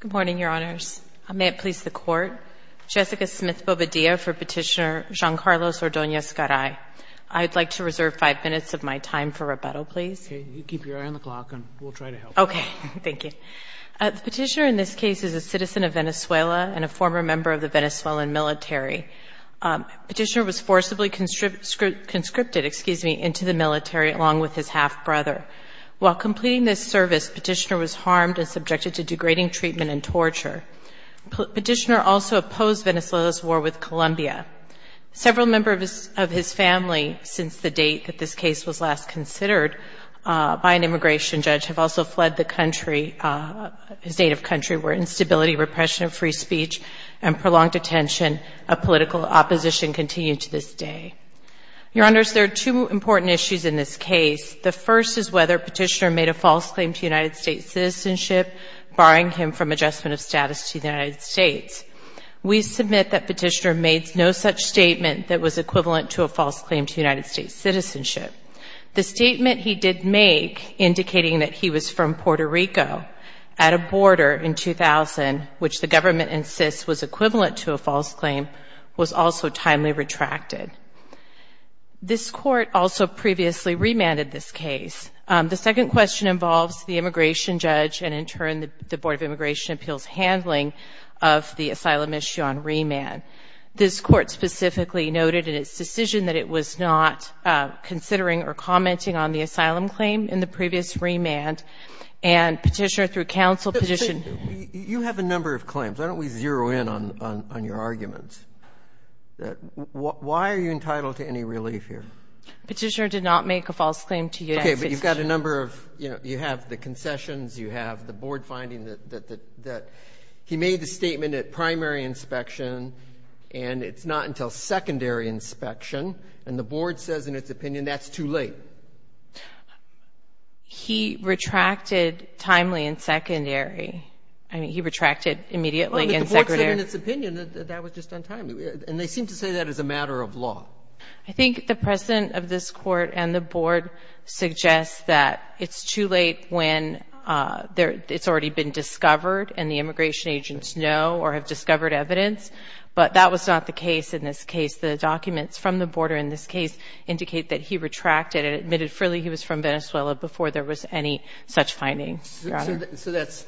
Good morning, Your Honors. May it please the Court, Jessica Smith-Bobadilla for Petitioner Giancarlo Ordonez-Garay. I'd like to reserve five minutes of my time for rebuttal, please. Okay, you keep your eye on the clock and we'll try to help. Okay, thank you. The petitioner in this case is a citizen of Venezuela and a former member of the Venezuelan military. Petitioner was forcibly conscripted into the military along with his half-brother. While completing this service, petitioner was harmed and subjected to degrading treatment and torture. Petitioner also opposed Venezuela's war with Colombia. Several members of his family, since the date that this case was last considered by an immigration judge, have also fled the country, his native country, where instability, repression of free speech, and prolonged detention of political opposition continue to this day. Your Honors, there are two important issues in this case. The first is whether petitioner made a false claim to United States citizenship, barring him from adjustment of status to the United States. We submit that petitioner made no such statement that was equivalent to a false claim to United States citizenship. The statement he did make indicating that he was from Puerto Rico at a border in 2000, which the government insists was equivalent to a false claim, was also timely retracted. This Court also previously remanded this case. The second question involves the immigration judge and, in turn, the Board of Immigration Appeals handling of the asylum issue on remand. This Court specifically noted in its decision that it was not considering or commenting on the asylum claim in the previous remand. And petitioner, through counsel, petitioned you have a number of claims. Why don't we zero in on your arguments? Why are you entitled to any relief here? Petitioner did not make a false claim to the United States citizenship, barring him from adjustment of status to the United States citizenship. He made the statement at primary inspection, and it's not until secondary inspection, and the Board says in its opinion that's too late. He retracted timely and secondary. I mean, he retracted immediately and secondary. In its opinion, that was just untimely. And they seem to say that as a matter of law. I think the President of this Court and the Board suggest that it's too late when it's already been discovered and the immigration agents know or have discovered evidence. But that was not the case in this case. The documents from the Board in this case indicate that he retracted and admitted freely he was from Venezuela before there was any such findings. So that's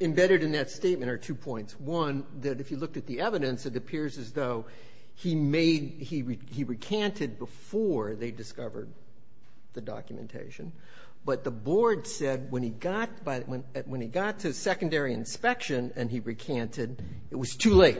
embedded in that statement are two points. One, that if you looked at the evidence, it appears as though he recanted before they discovered the documentation. But the Board said when he got to secondary inspection and he recanted, it was too late.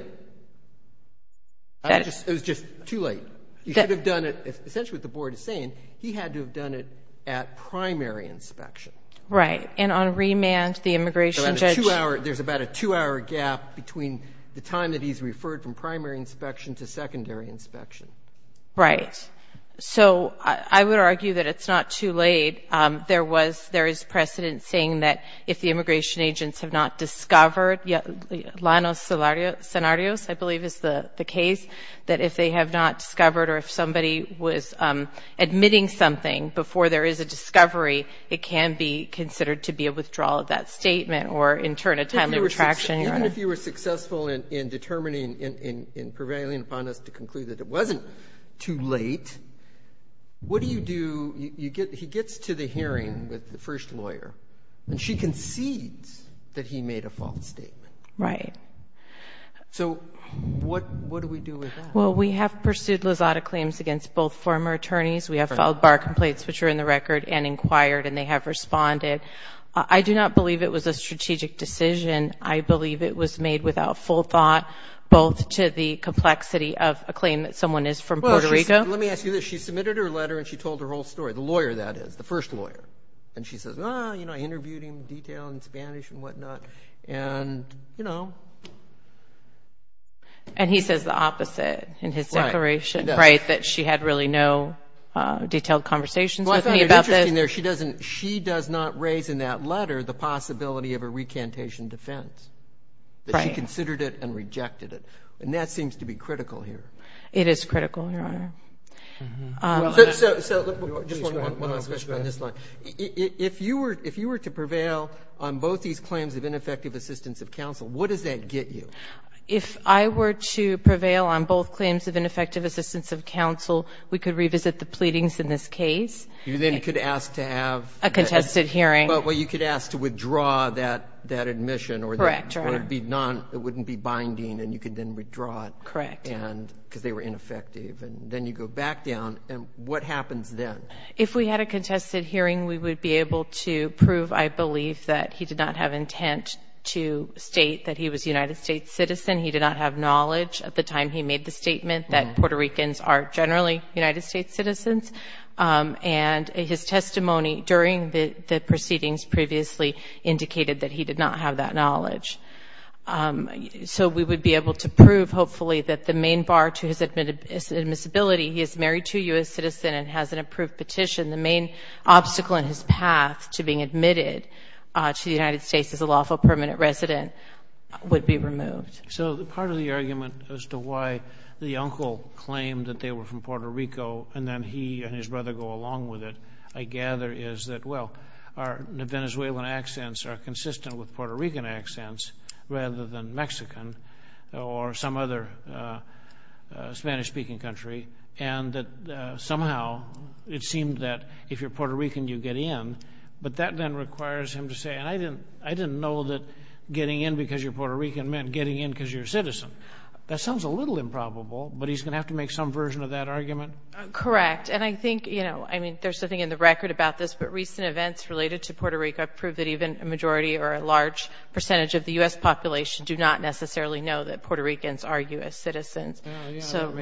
It was just too late. Essentially what the Board is saying, he had to have done it at primary inspection. Right. And on remand, the immigration judge... There's about a two-hour gap between the time that he's referred from primary inspection to secondary inspection. Right. So I would argue that it's not too late. There was, there is precedent saying that if the immigration agents have not discovered, lano scenarios, I believe is the case, that if they have not discovered or if somebody was admitting something before there is a discovery, it can be considered to be a withdrawal of that statement or in turn a timely retraction. Even if you were successful in determining, in prevailing upon us to conclude that it wasn't too late, what do you do? You get, he gets to the hearing with the first lawyer and she concedes that he made a false statement. Right. So what, what do we do with that? Well, we have pursued Lozada claims against both former attorneys. We have filed bar complaints, which are in the record and they have responded. I do not believe it was a strategic decision. I believe it was made without full thought, both to the complexity of a claim that someone is from Puerto Rico. Let me ask you this. She submitted her letter and she told her whole story, the lawyer that is, the first lawyer. And she says, ah, you know, I interviewed him in detail in Spanish and whatnot. And, you know. And he says the opposite in his declaration. Right. That she had really no She does not raise in that letter the possibility of a recantation defense. Right. That she considered it and rejected it. And that seems to be critical here. It is critical, Your Honor. So, so, so just one last question on this line. If you were, if you were to prevail on both these claims of ineffective assistance of counsel, what does that get you? If I were to prevail on both claims of ineffective assistance of counsel, we could revisit the pleadings in this case. You then could ask to have. A contested hearing. But, well, you could ask to withdraw that, that admission or. Correct, Your Honor. Or it'd be non, it wouldn't be binding and you could then withdraw it. Correct. And, because they were ineffective. And then you go back down and what happens then? If we had a contested hearing, we would be able to prove, I believe, that he did not have intent to state that he was a United States citizen. He did not have knowledge at the time he made the statement that Puerto Ricans are generally United States citizens. And his testimony during the proceedings previously indicated that he did not have that knowledge. So, we would be able to prove, hopefully, that the main bar to his admissibility, he is married to a U.S. citizen and has an approved petition. The main obstacle in his path to being admitted to the United States as a lawful permanent resident would be removed. So, part of the argument as to why the uncle claimed that they were Puerto Rico and then he and his brother go along with it, I gather, is that, well, our Venezuelan accents are consistent with Puerto Rican accents rather than Mexican or some other Spanish-speaking country. And that somehow it seemed that if you're Puerto Rican, you get in. But that then requires him to say, and I didn't, I didn't know that getting in because you're Puerto Rican meant getting in because you're a citizen. That sounds a little improbable, but he's going to have to make some version of that argument. Correct. And I think, you know, I mean, there's something in the record about this, but recent events related to Puerto Rico prove that even a majority or a large percentage of the U.S. population do not necessarily know that Puerto Ricans are U.S. citizens. So,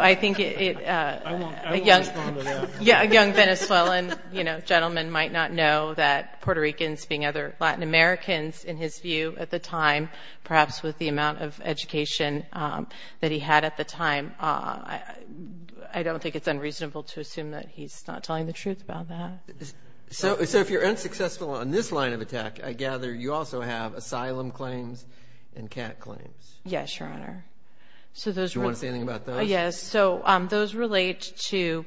I think a young Venezuelan, you know, gentleman might not know that Puerto Ricans, being other Latin Americans in his view at the time, perhaps with the amount of education that he had at the time, I don't think it's unreasonable to assume that he's not telling the truth about that. So, if you're unsuccessful on this line of attack, I gather you also have asylum claims and cat claims. Yes, Your Honor. So, those... Do you want to say anything about those? Yes. So, those relate to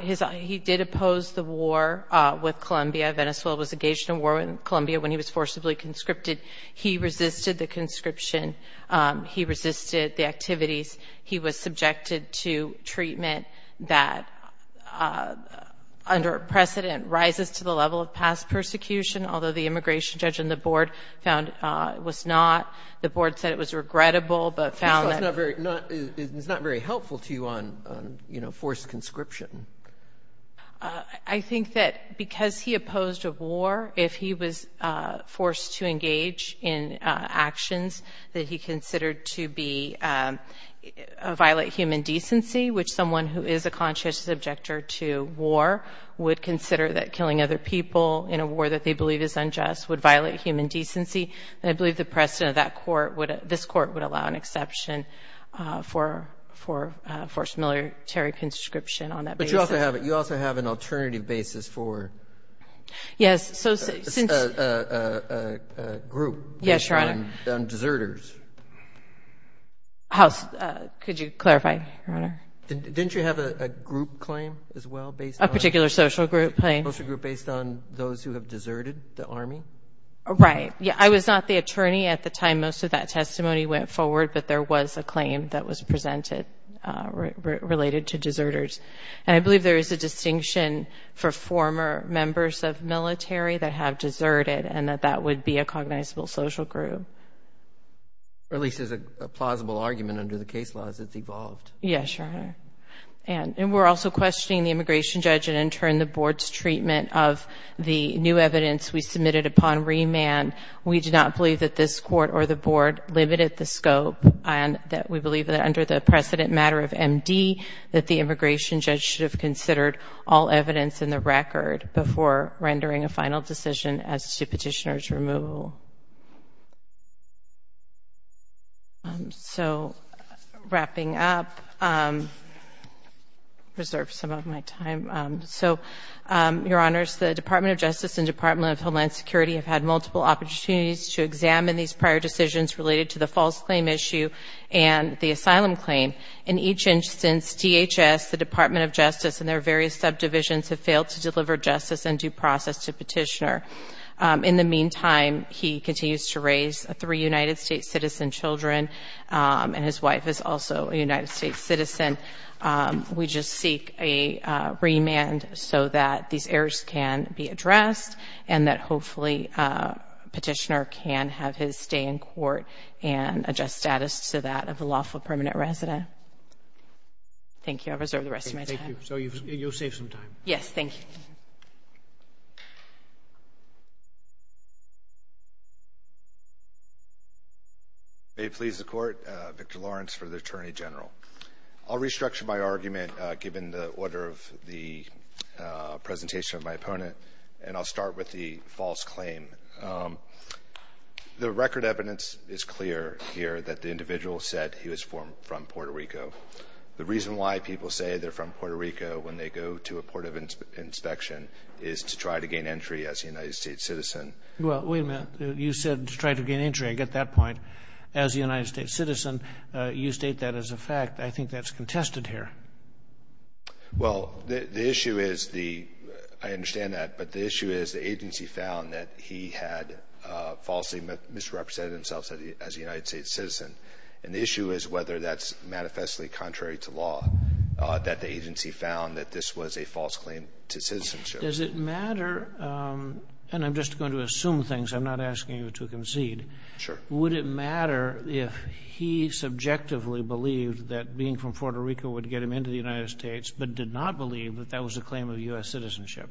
his... He did oppose the war with Colombia. Venezuela was engaged in a war with Colombia when he was forcibly conscripted. He resisted the conscription. He resisted the activities. He was subjected to treatment that under precedent rises to the level of past persecution, although the immigration judge and the board found it was not. The board said it was forced conscription. I think that because he opposed a war, if he was forced to engage in actions that he considered to violate human decency, which someone who is a conscious objector to war would consider that killing other people in a war that they believe is unjust would violate human decency, then I believe the precedent of that court would... This court would allow an military conscription on that basis. But you also have an alternative basis for... Yes. So, since... A group. Yes, Your Honor. Deserters. Could you clarify, Your Honor? Didn't you have a group claim as well based on... A particular social group claim. A social group based on those who have deserted the army? Right. Yeah. I was not the attorney at the time most of that testimony went forward, but there was a claim that was related to deserters. And I believe there is a distinction for former members of military that have deserted and that that would be a cognizable social group. Or at least there's a plausible argument under the case laws it's evolved. Yes, Your Honor. And we're also questioning the immigration judge and in turn the board's treatment of the new evidence we submitted upon remand. We do not believe that this court or the board limited the scope and that we believe that under the precedent matter of MD that the immigration judge should have considered all evidence in the record before rendering a final decision as to petitioner's removal. So, wrapping up... Reserve some of my time. So, Your Honors, the Department of Justice and Department of Homeland Security have had multiple opportunities to examine these prior decisions related to the false claim issue and the asylum claim. In each instance, DHS, the Department of Justice and their various subdivisions have failed to deliver justice and due process to petitioner. In the meantime, he continues to raise three United States citizen children and his wife is also a United States citizen. We just seek a remand so that these errors can be addressed and that hopefully petitioner can have his stay in court and adjust status to that of a lawful permanent resident. Thank you. I'll reserve the rest of my time. Thank you. So, you'll save some time. Yes, thank you. May it please the Court, Victor Lawrence for the Attorney General. I'll restructure my argument given the order of the presentation of my opponent and I'll start with the false claim. The record evidence is clear here that the individual said he was from Puerto Rico. The reason why people say they're from Puerto Rico when they go to a port of inspection is to try to gain entry as a United States citizen. Well, wait a minute. You said to try to gain entry. I get that point. As a United States citizen, you state that as a fact. I think that's that he had falsely misrepresented himself as a United States citizen and the issue is whether that's manifestly contrary to law that the agency found that this was a false claim to citizenship. Does it matter and I'm just going to assume things. I'm not asking you to concede. Sure. Would it matter if he subjectively believed that being from Puerto Rico would get him into the United States but did not believe that that was a claim of U.S. citizenship?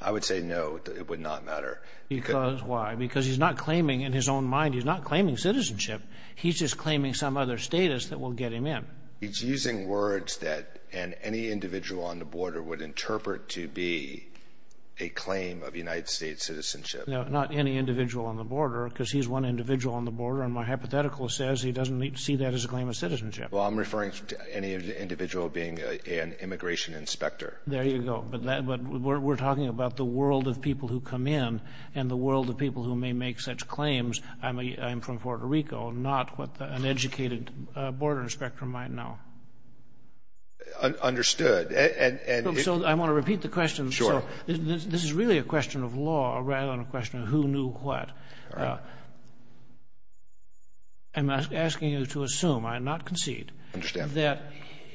I would say no, it would not matter. Because why? Because he's not claiming in his own mind, he's not claiming citizenship. He's just claiming some other status that will get him in. He's using words that and any individual on the border would interpret to be a claim of United States citizenship. No, not any individual on the border because he's one individual on the border and my hypothetical says he doesn't need to see that as a claim of citizenship. Well, I'm referring to any individual being an immigration inspector. There you go. But we're talking about the world of people who come in and the world of people who may make such claims. I'm from Puerto Rico, not what an educated border inspector might know. Understood. So I want to repeat the question. This is really a question of law rather than a question of who knew what. I'm asking you to assume, I'm not concede, that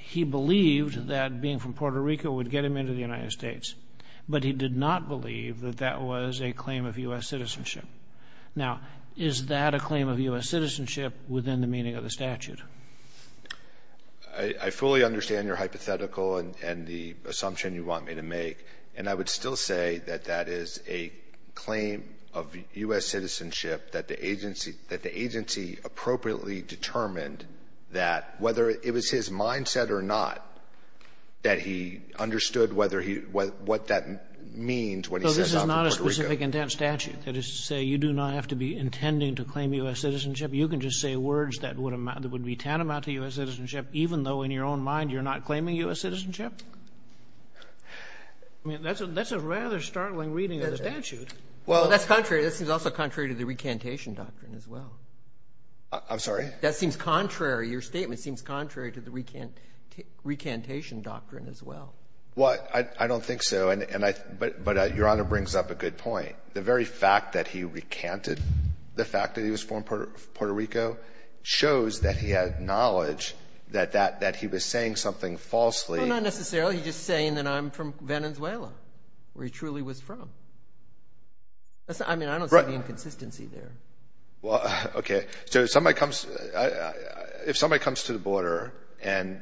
he believed that being from Puerto Rico would get him into the United States, but he did not believe that that was a claim of U.S. citizenship. Now, is that a claim of U.S. citizenship within the meaning of the statute? I fully understand your hypothetical and the assumption you want me to make. And I would still say that that is a claim of U.S. citizenship that the agency appropriately determined that whether it was his mindset or not, that he understood what that means. So this is not a specific intent statute that is to say you do not have to be intending to claim U.S. citizenship. You can just say words that would be tantamount to U.S. citizenship, even though in your own mind you're not claiming U.S. citizenship. I mean, that's a rather startling reading of the statute. Well, that's contrary. This is also contrary to the recantation doctrine as well. I'm sorry? That seems contrary. Your statement seems contrary to the recantation doctrine as well. Well, I don't think so. But Your Honor brings up a good point. The very fact that he recanted, the fact that he was from Puerto Rico, shows that he had knowledge that he was saying something falsely. Well, not necessarily. He's just saying that I'm from Venezuela, where he truly was from. I mean, I don't see the inconsistency there. Well, okay. So if somebody comes to the border and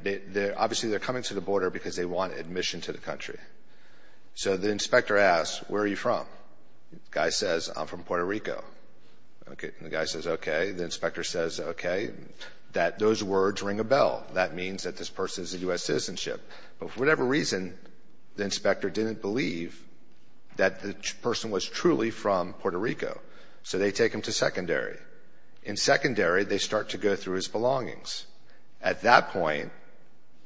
obviously they're coming to the border because they want admission to the country. So the inspector asks, where are you from? The guy says, I'm from Puerto Rico. The guy says, okay. The inspector says, okay. Those words ring a bell. That means that this person is a U.S. citizenship. But for whatever reason, the inspector didn't believe that the person was truly from Puerto Rico. So they take him to secondary. In secondary, they start to go through his belongings. At that point,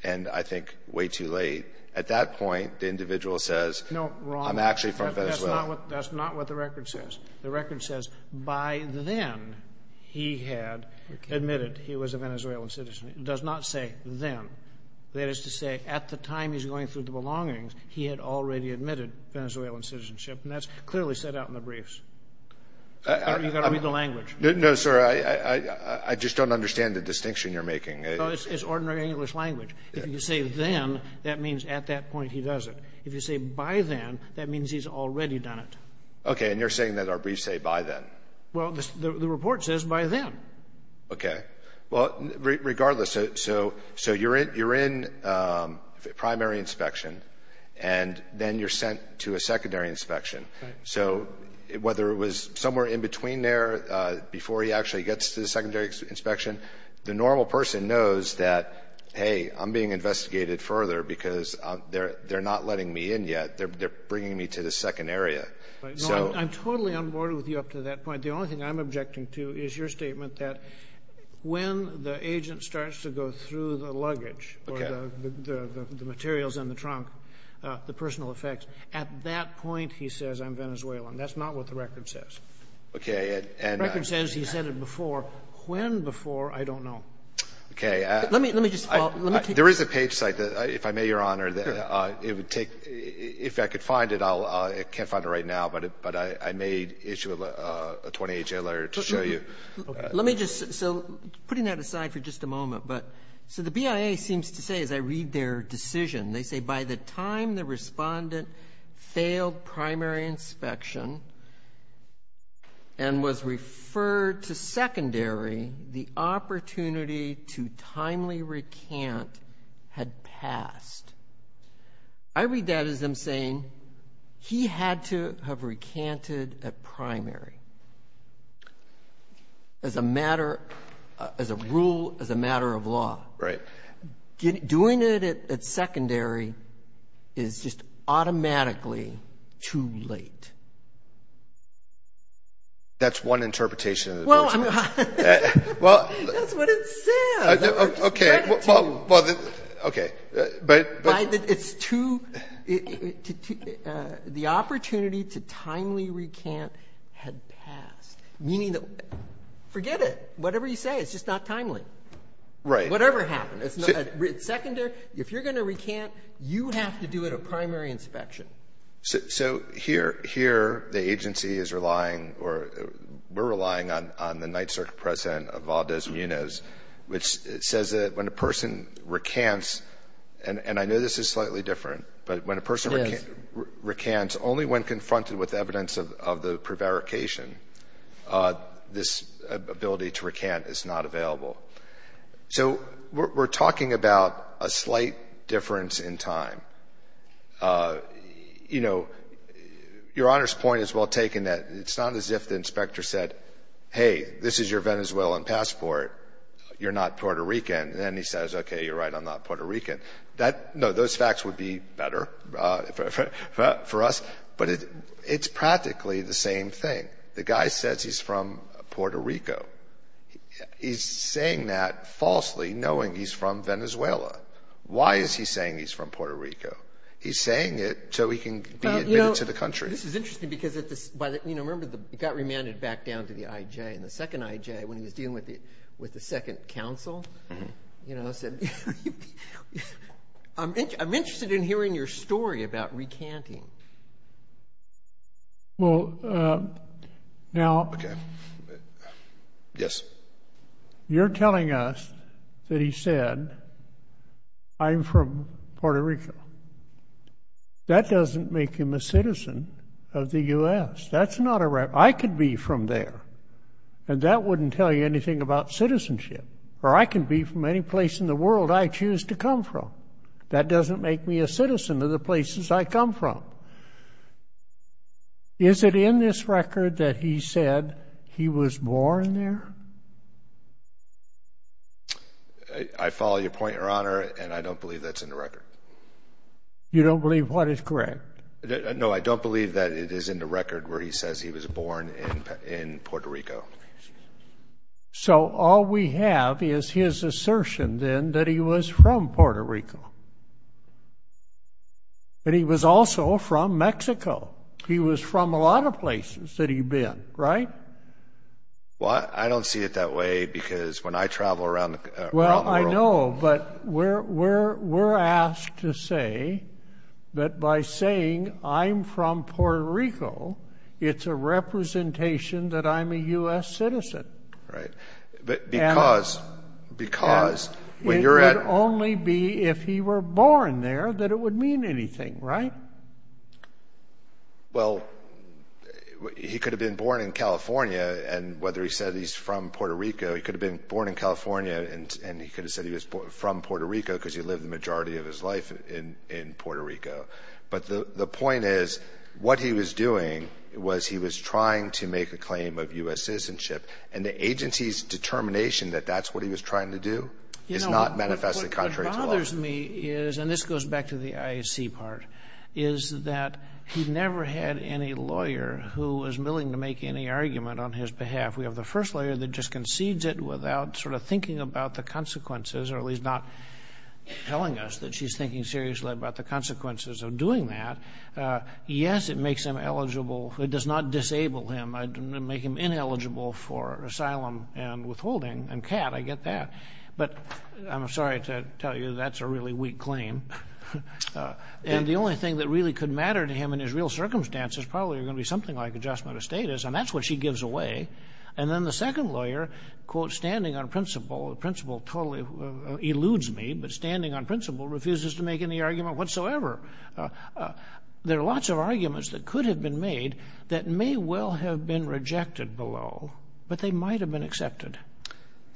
and I think way too late, at that point, the individual says, I'm actually from Venezuela. That's not what the record says. The record says, by then, he had admitted he was a Venezuelan citizen. It does not say then. That is to say, at the time he's going through the belongings, he had already admitted Venezuelan citizenship. And that's clearly set out in the briefs. You've got to read the language. No, sir. I just don't understand the distinction you're making. It's ordinary English language. If you say then, that means at that point he does it. If you say by then, that means he's already done it. Okay. And you're saying that our briefs say by then? Well, the report says by then. Okay. Well, regardless, so you're in primary inspection, and then you're sent to a secondary inspection. So whether it was somewhere in between there, before he actually gets to the secondary inspection, the normal person knows that, hey, I'm being investigated further because they're not letting me in yet. They're bringing me to the second area. I'm totally on board with you up to that point. The only thing I'm objecting to is your statement that when the agent starts to go through the luggage or the materials in the trunk, the personal effects, at that point he says, I'm Venezuelan. That's not what the record says. Okay. And... Record says he said it before. When before, I don't know. Okay. There is a page site that, if I may, Your Honor, that it would take... If I could find it, I can't find it right now, but I may issue a 28-J letter to show you. Let me just... So putting that aside for just a moment, but... So the BIA seems to say, as I read their decision, they say, by the time the respondent failed primary inspection and was referred to secondary, the opportunity to timely recant had passed. I read that as them saying he had to have recanted at primary. As a matter... As a rule, as a matter of law. Right. Doing it at secondary is just automatically too late. That's one interpretation of the... Well, I mean... Well... That's what it says. Okay. Well, okay. But... It's too... The opportunity to timely recant had passed, meaning that... Forget it. Whatever you say, it's just not timely. Right. Whatever happened. It's secondary. If you're going to recant, you have to do it at primary inspection. So here, the agency is relying or we're relying on the Ninth Circuit President of Valdez-Munoz, which says that when a person recants, and I know this is slightly different, but when a person recants, only when confronted with evidence of the prevarication, this ability to recant is not available. So we're talking about a slight difference in time. You know, Your Honor's point is well taken that it's not as if the inspector said, hey, this is your Venezuelan passport. You're not Puerto Rican. And then he says, okay, you're right, I'm not Puerto Rican. That... No, those facts would be better for us. But it's practically the same thing. The guy says he's from Puerto Rico. He's saying that falsely knowing he's from Venezuela. Why is he saying he's from Puerto Rico? He's saying it so he can be admitted to the country. Well, you know, this is interesting because at this... But, you know, remember, he got remanded back down to the IJ. And the second IJ, when he was dealing with the second counsel, you know, said, I'm interested in hearing your story about recanting. Well, now... Okay. Yes. You're telling us that he said, I'm from Puerto Rico. That doesn't make him a citizen of the U.S. That's not a... I could be from there. And that wouldn't tell you anything about citizenship. Or I can be from any place in the world I choose to come from. That doesn't make me a citizen of the places I come from. Okay. Is it in this record that he said he was born there? I follow your point, Your Honor. And I don't believe that's in the record. You don't believe what is correct? No, I don't believe that it is in the record where he says he was born in Puerto Rico. So all we have is his assertion then that he was from Puerto Rico. But he was also from Mexico. He was from a lot of places that he'd been, right? Well, I don't see it that way because when I travel around the world... Well, I know, but we're asked to say that by saying I'm from Puerto Rico, it's a representation that I'm a U.S. citizen. Right. Because... Because when you're at... If he were born there, that it would mean anything, right? Well, he could have been born in California and whether he said he's from Puerto Rico, he could have been born in California and he could have said he was from Puerto Rico because he lived the majority of his life in Puerto Rico. But the point is, what he was doing was he was trying to make a claim of U.S. citizenship. And the agency's determination that that's what he was trying to do is not manifested contrary to law. What bothers me is, and this goes back to the IAC part, is that he never had any lawyer who was willing to make any argument on his behalf. We have the first lawyer that just concedes it without sort of thinking about the consequences, or at least not telling us that she's thinking seriously about the consequences of doing that. Yes, it makes him eligible. It does not disable him. I didn't make him ineligible for asylum and withholding and CAT. I get that. But I'm sorry to tell you that's a really weak claim. And the only thing that really could matter to him in his real circumstance is probably going to be something like adjustment of status. And that's what she gives away. And then the second lawyer, quote, standing on principle, the principle totally eludes me, but standing on principle refuses to make any argument whatsoever. There are lots of arguments that could have been made that may well have been rejected below, but they might have been accepted.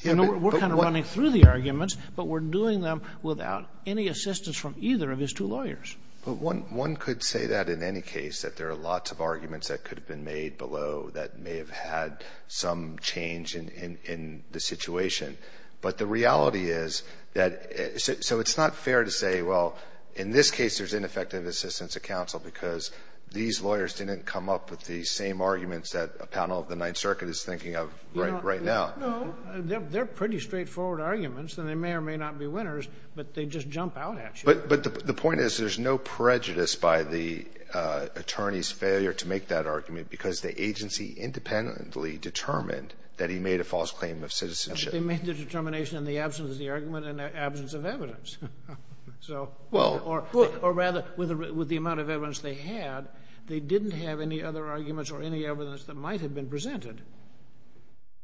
You know, we're kind of running through the arguments, but we're doing them without any assistance from either of his two lawyers. But one could say that in any case, that there are lots of arguments that could have been made below that may have had some change in the situation. But the reality is that, so it's not fair to say, well, in this case, there's ineffective assistance of counsel because these lawyers didn't come up with the same arguments that a panel of the Ninth Circuit is thinking of right now. They're pretty straightforward arguments, and they may or may not be winners, but they just jump out at you. But the point is, there's no prejudice by the attorney's failure to make that argument because the agency independently determined that he made a false claim of citizenship. They made the determination in the absence of the argument and the absence of evidence. Or rather, with the amount of evidence they had, they didn't have any other arguments or any evidence that might have been presented.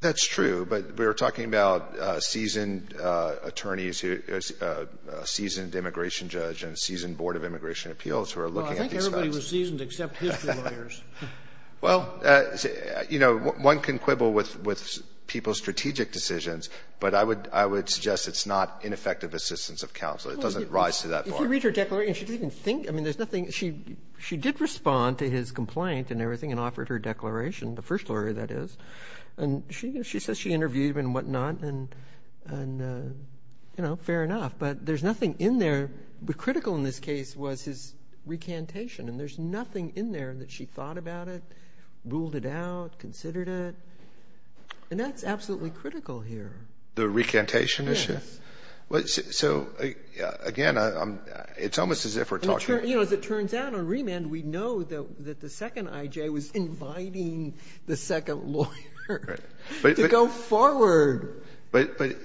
That's true, but we were talking about seasoned attorneys, a seasoned immigration judge, and a seasoned board of immigration appeals who are looking at these facts. Well, I think everybody was seasoned except his two lawyers. Well, you know, one can quibble with people's strategic decisions, but I would suggest it's not ineffective assistance of counsel. It doesn't rise to that point. If you read her declaration, she didn't even think. I mean, there's nothing. She did respond to his complaint and everything and offered her declaration, the first lawyer, that is. And she says she interviewed him and whatnot, and, you know, fair enough. But there's nothing in there. But critical in this case was his recantation, and there's nothing in there that she thought about it, ruled it out, considered it. And that's absolutely critical here. The recantation issue? Yes. Well, so again, it's almost as if we're talking— The second lawyer to go forward. But,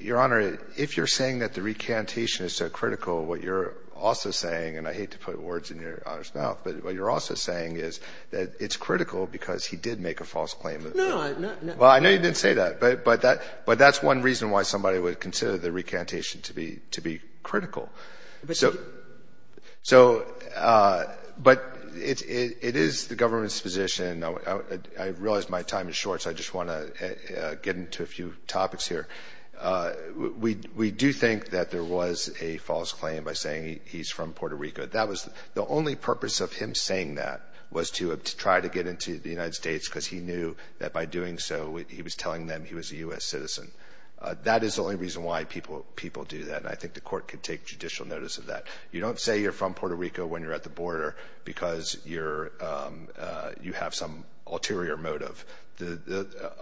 Your Honor, if you're saying that the recantation is so critical, what you're also saying, and I hate to put words in Your Honor's mouth, but what you're also saying is that it's critical because he did make a false claim. No, I'm not— Well, I know you didn't say that, but that's one reason why somebody would consider the recantation to be critical. So, but it is the government's position. I realize my time is short, so I just want to get into a few topics here. We do think that there was a false claim by saying he's from Puerto Rico. That was the only purpose of him saying that was to try to get into the United States because he knew that by doing so, he was telling them he was a U.S. citizen. That is the only reason why people do that. I think the court can take judicial notice of that. You don't say you're from Puerto Rico when you're at the border because you have some ulterior motive,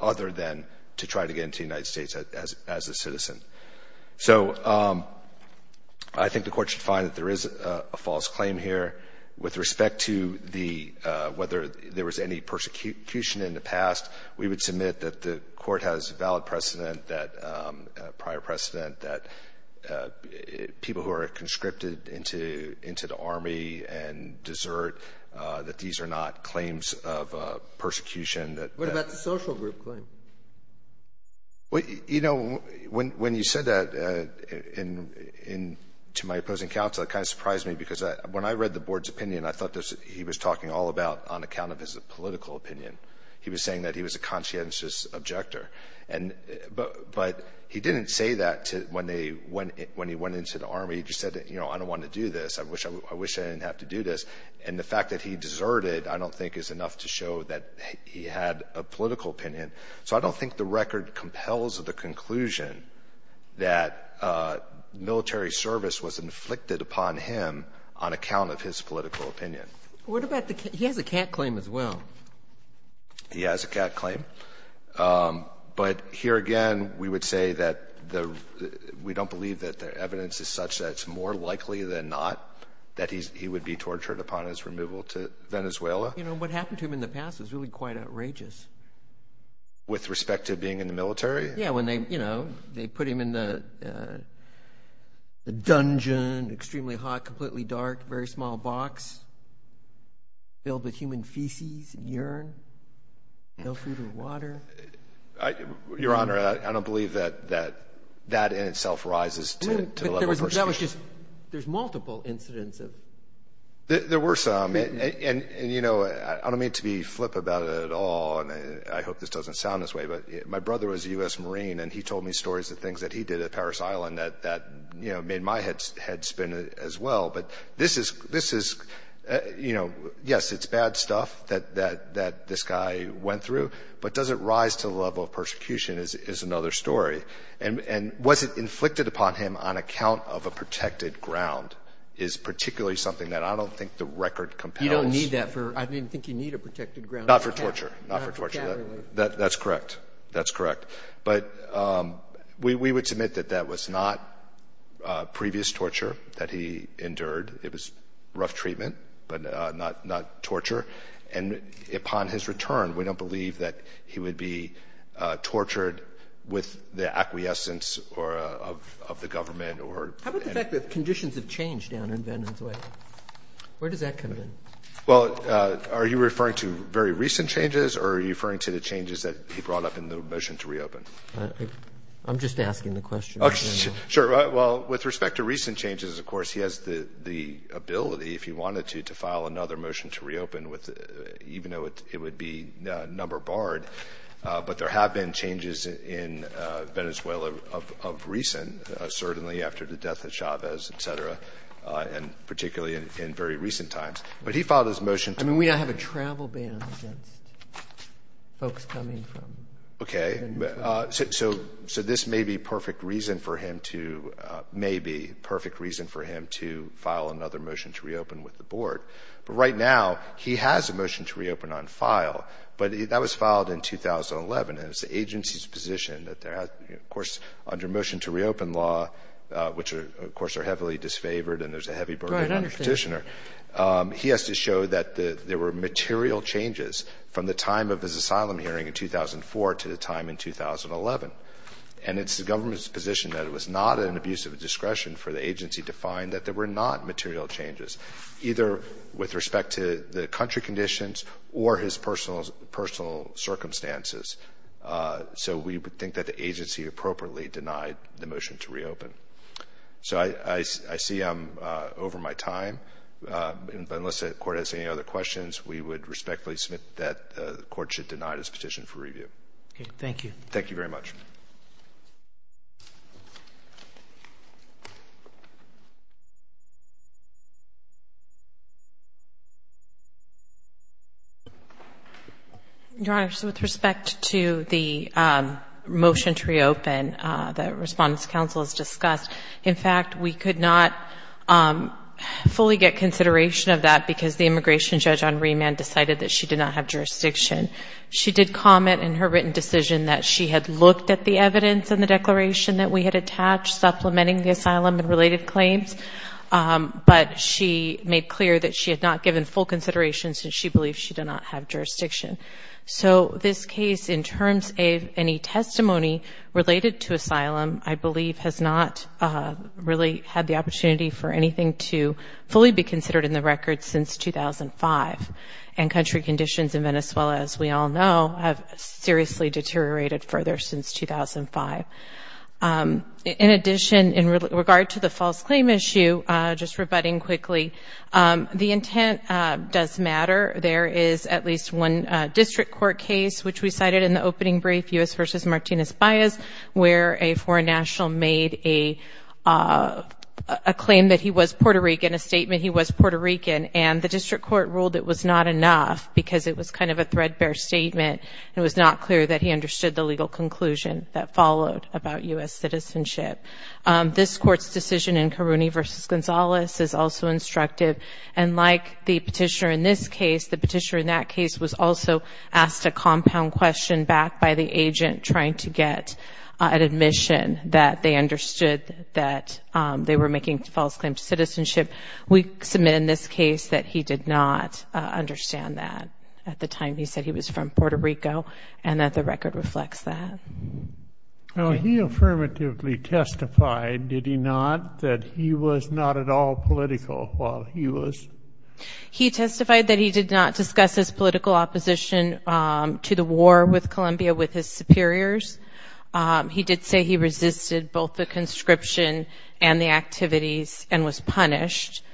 other than to try to get into the United States as a citizen. So, I think the court should find that there is a false claim here. With respect to whether there was any persecution in the past, we would submit that the court has valid precedent, a prior precedent that people who are conscripted into the army and desert, that these are not claims of persecution. What about the social group claim? Well, you know, when you said that to my opposing counsel, it kind of surprised me because when I read the board's opinion, I thought he was talking all about on account of his political opinion. He was saying that he was a conscientious objector. But he didn't say that when he went into the army. He just said, you know, I don't want to do this. I wish I didn't have to do this. And the fact that he deserted, I don't think is enough to show that he had a political opinion. So, I don't think the record compels the conclusion that military service was inflicted upon him on account of his political opinion. What about, he has a cat claim as well. He has a cat claim. But here again, we would say that the, we don't believe that the evidence is such that it's more likely than not that he would be tortured upon his removal to Venezuela. You know, what happened to him in the past was really quite outrageous. With respect to being in the military? Yeah, when they, you know, they put him in the dungeon, extremely hot, completely dark, very small box filled with human feces, urine, no food or water. I, Your Honor, I don't believe that, that, that in itself rises to the level. That was just, there's multiple incidents of. There were some. And, you know, I don't mean to be flip about it at all. And I hope this doesn't sound this way. But my brother was a U.S. Marine. And he told me stories of things that he did at Parris Island that, that, you know, made my head spin as well. But this is, this is, you know, yes, it's bad stuff that this guy went through. But does it rise to the level of persecution is another story. And was it inflicted upon him on account of a protected ground is particularly something that I don't think the record compels. You don't need that for, I didn't think you need a protected ground. Not for torture, not for torture. That's correct. That's correct. But we would submit that that was not previous torture that he endured. It was rough treatment, but not, not torture. And upon his return, we don't believe that he would be tortured with the acquiescence or of, of the government or. How about the fact that conditions have changed down in Veterans Way? Where does that come in? Well, are you referring to very recent changes or are you referring to the changes that he brought up in the motion to reopen? I'm just asking the question. Sure. Well, with respect to recent changes, of course, he has the, the ability if he wanted to, to file another motion to reopen with, even though it would be number barred. But there have been changes in Venezuela of, of recent, certainly after the death of Chavez, et cetera. And particularly in very recent times. But he filed his motion. I mean, we don't have a travel ban against folks coming from. Okay. So, so this may be perfect reason for him to, may be perfect reason for him to file another motion to reopen with the board. But right now, he has a motion to reopen on file. But that was filed in 2011. And it's the agency's position that there has, of course, under motion to reopen law, which are, of course, are heavily disfavored. And there's a heavy burden on the petitioner. He has to show that the, there were material changes from the time of his asylum hearing in 2004 to the time in 2011. And it's the government's position that it was not an abuse of discretion for the agency to find that there were not material changes, either with respect to the country conditions or his personal, personal circumstances. So we would think that the agency appropriately denied the motion to reopen. So I, I, I see I'm over my time. But unless the court has any other questions, we would respectfully submit that the court should deny this petition for review. Okay. Thank you. Thank you very much. Your Honor, so with respect to the motion to reopen that Respondents' Council has discussed, in fact, we could not fully get consideration of that because the immigration judge on remand decided that she did not have jurisdiction. She did comment in her written decision that she had looked at the evidence in the declaration that we had attached supplementing the asylum and related claims. But she made clear that she had not given full considerations and she believed she did not have jurisdiction. So this case, in terms of any testimony related to asylum, I believe has not really had the opportunity for anything to fully be considered in the record since 2005. And country conditions in Venezuela, as we all know, have seriously deteriorated further since 2005. In addition, in regard to the false claim issue, just rebutting quickly, the intent does matter. There is at least one district court case, which we cited in the opening brief, U.S. v. Martinez-Baez, where a foreign national made a claim that he was Puerto Rican, a statement he was Puerto Rican, and the district court ruled it was not enough because it was kind of a threadbare statement. It was not clear that he understood the legal conclusion that followed about U.S. citizenship. This court's decision in Carrune v. Gonzalez is also instructive. And like the petitioner in this case, the petitioner in that case was also asked a compound question backed by the agent trying to get an admission that they understood that they were making a false claim to citizenship. We submit in this case that he did not understand that at the time he said he was from Puerto Rico and that the record reflects that. Now, he affirmatively testified, did he not, that he was not at all political while he was? He testified that he did not discuss his political opposition to the war with Colombia with his superiors. He did say he resisted both the conscription and the activities and was punished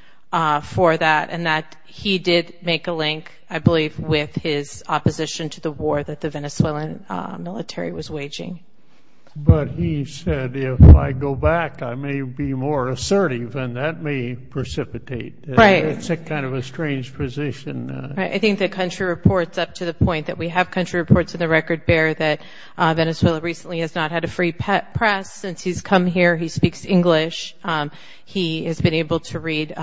for that. And that he did make a link, I believe, with his opposition to the war that the Venezuelan military was waging. But he said, if I go back, I may be more assertive and that may precipitate. Right. It's a kind of a strange position. Right. I think the country reports up to the point that we have country reports in the record bear that Venezuela recently has not had a free press since he's come here. He speaks English. He has been able to read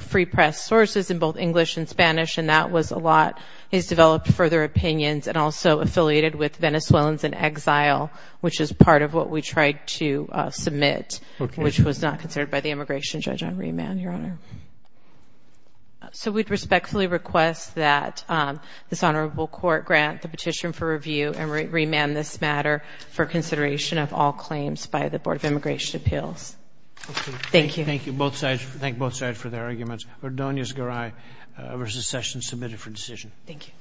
free press sources in both English and Spanish. And that was a lot. He's developed further opinions and also affiliated with Venezuelans in exile, which is part of what we tried to submit, which was not considered by the immigration judge on remand, Your Honor. So we'd respectfully request that this honorable court grant the petition for review and remand this matter for consideration of all claims by the Board of Immigration Appeals. Thank you. Thank you. Both sides. Thank both sides for their arguments. Ordonez Garay versus Sessions submitted for decision. Thank you.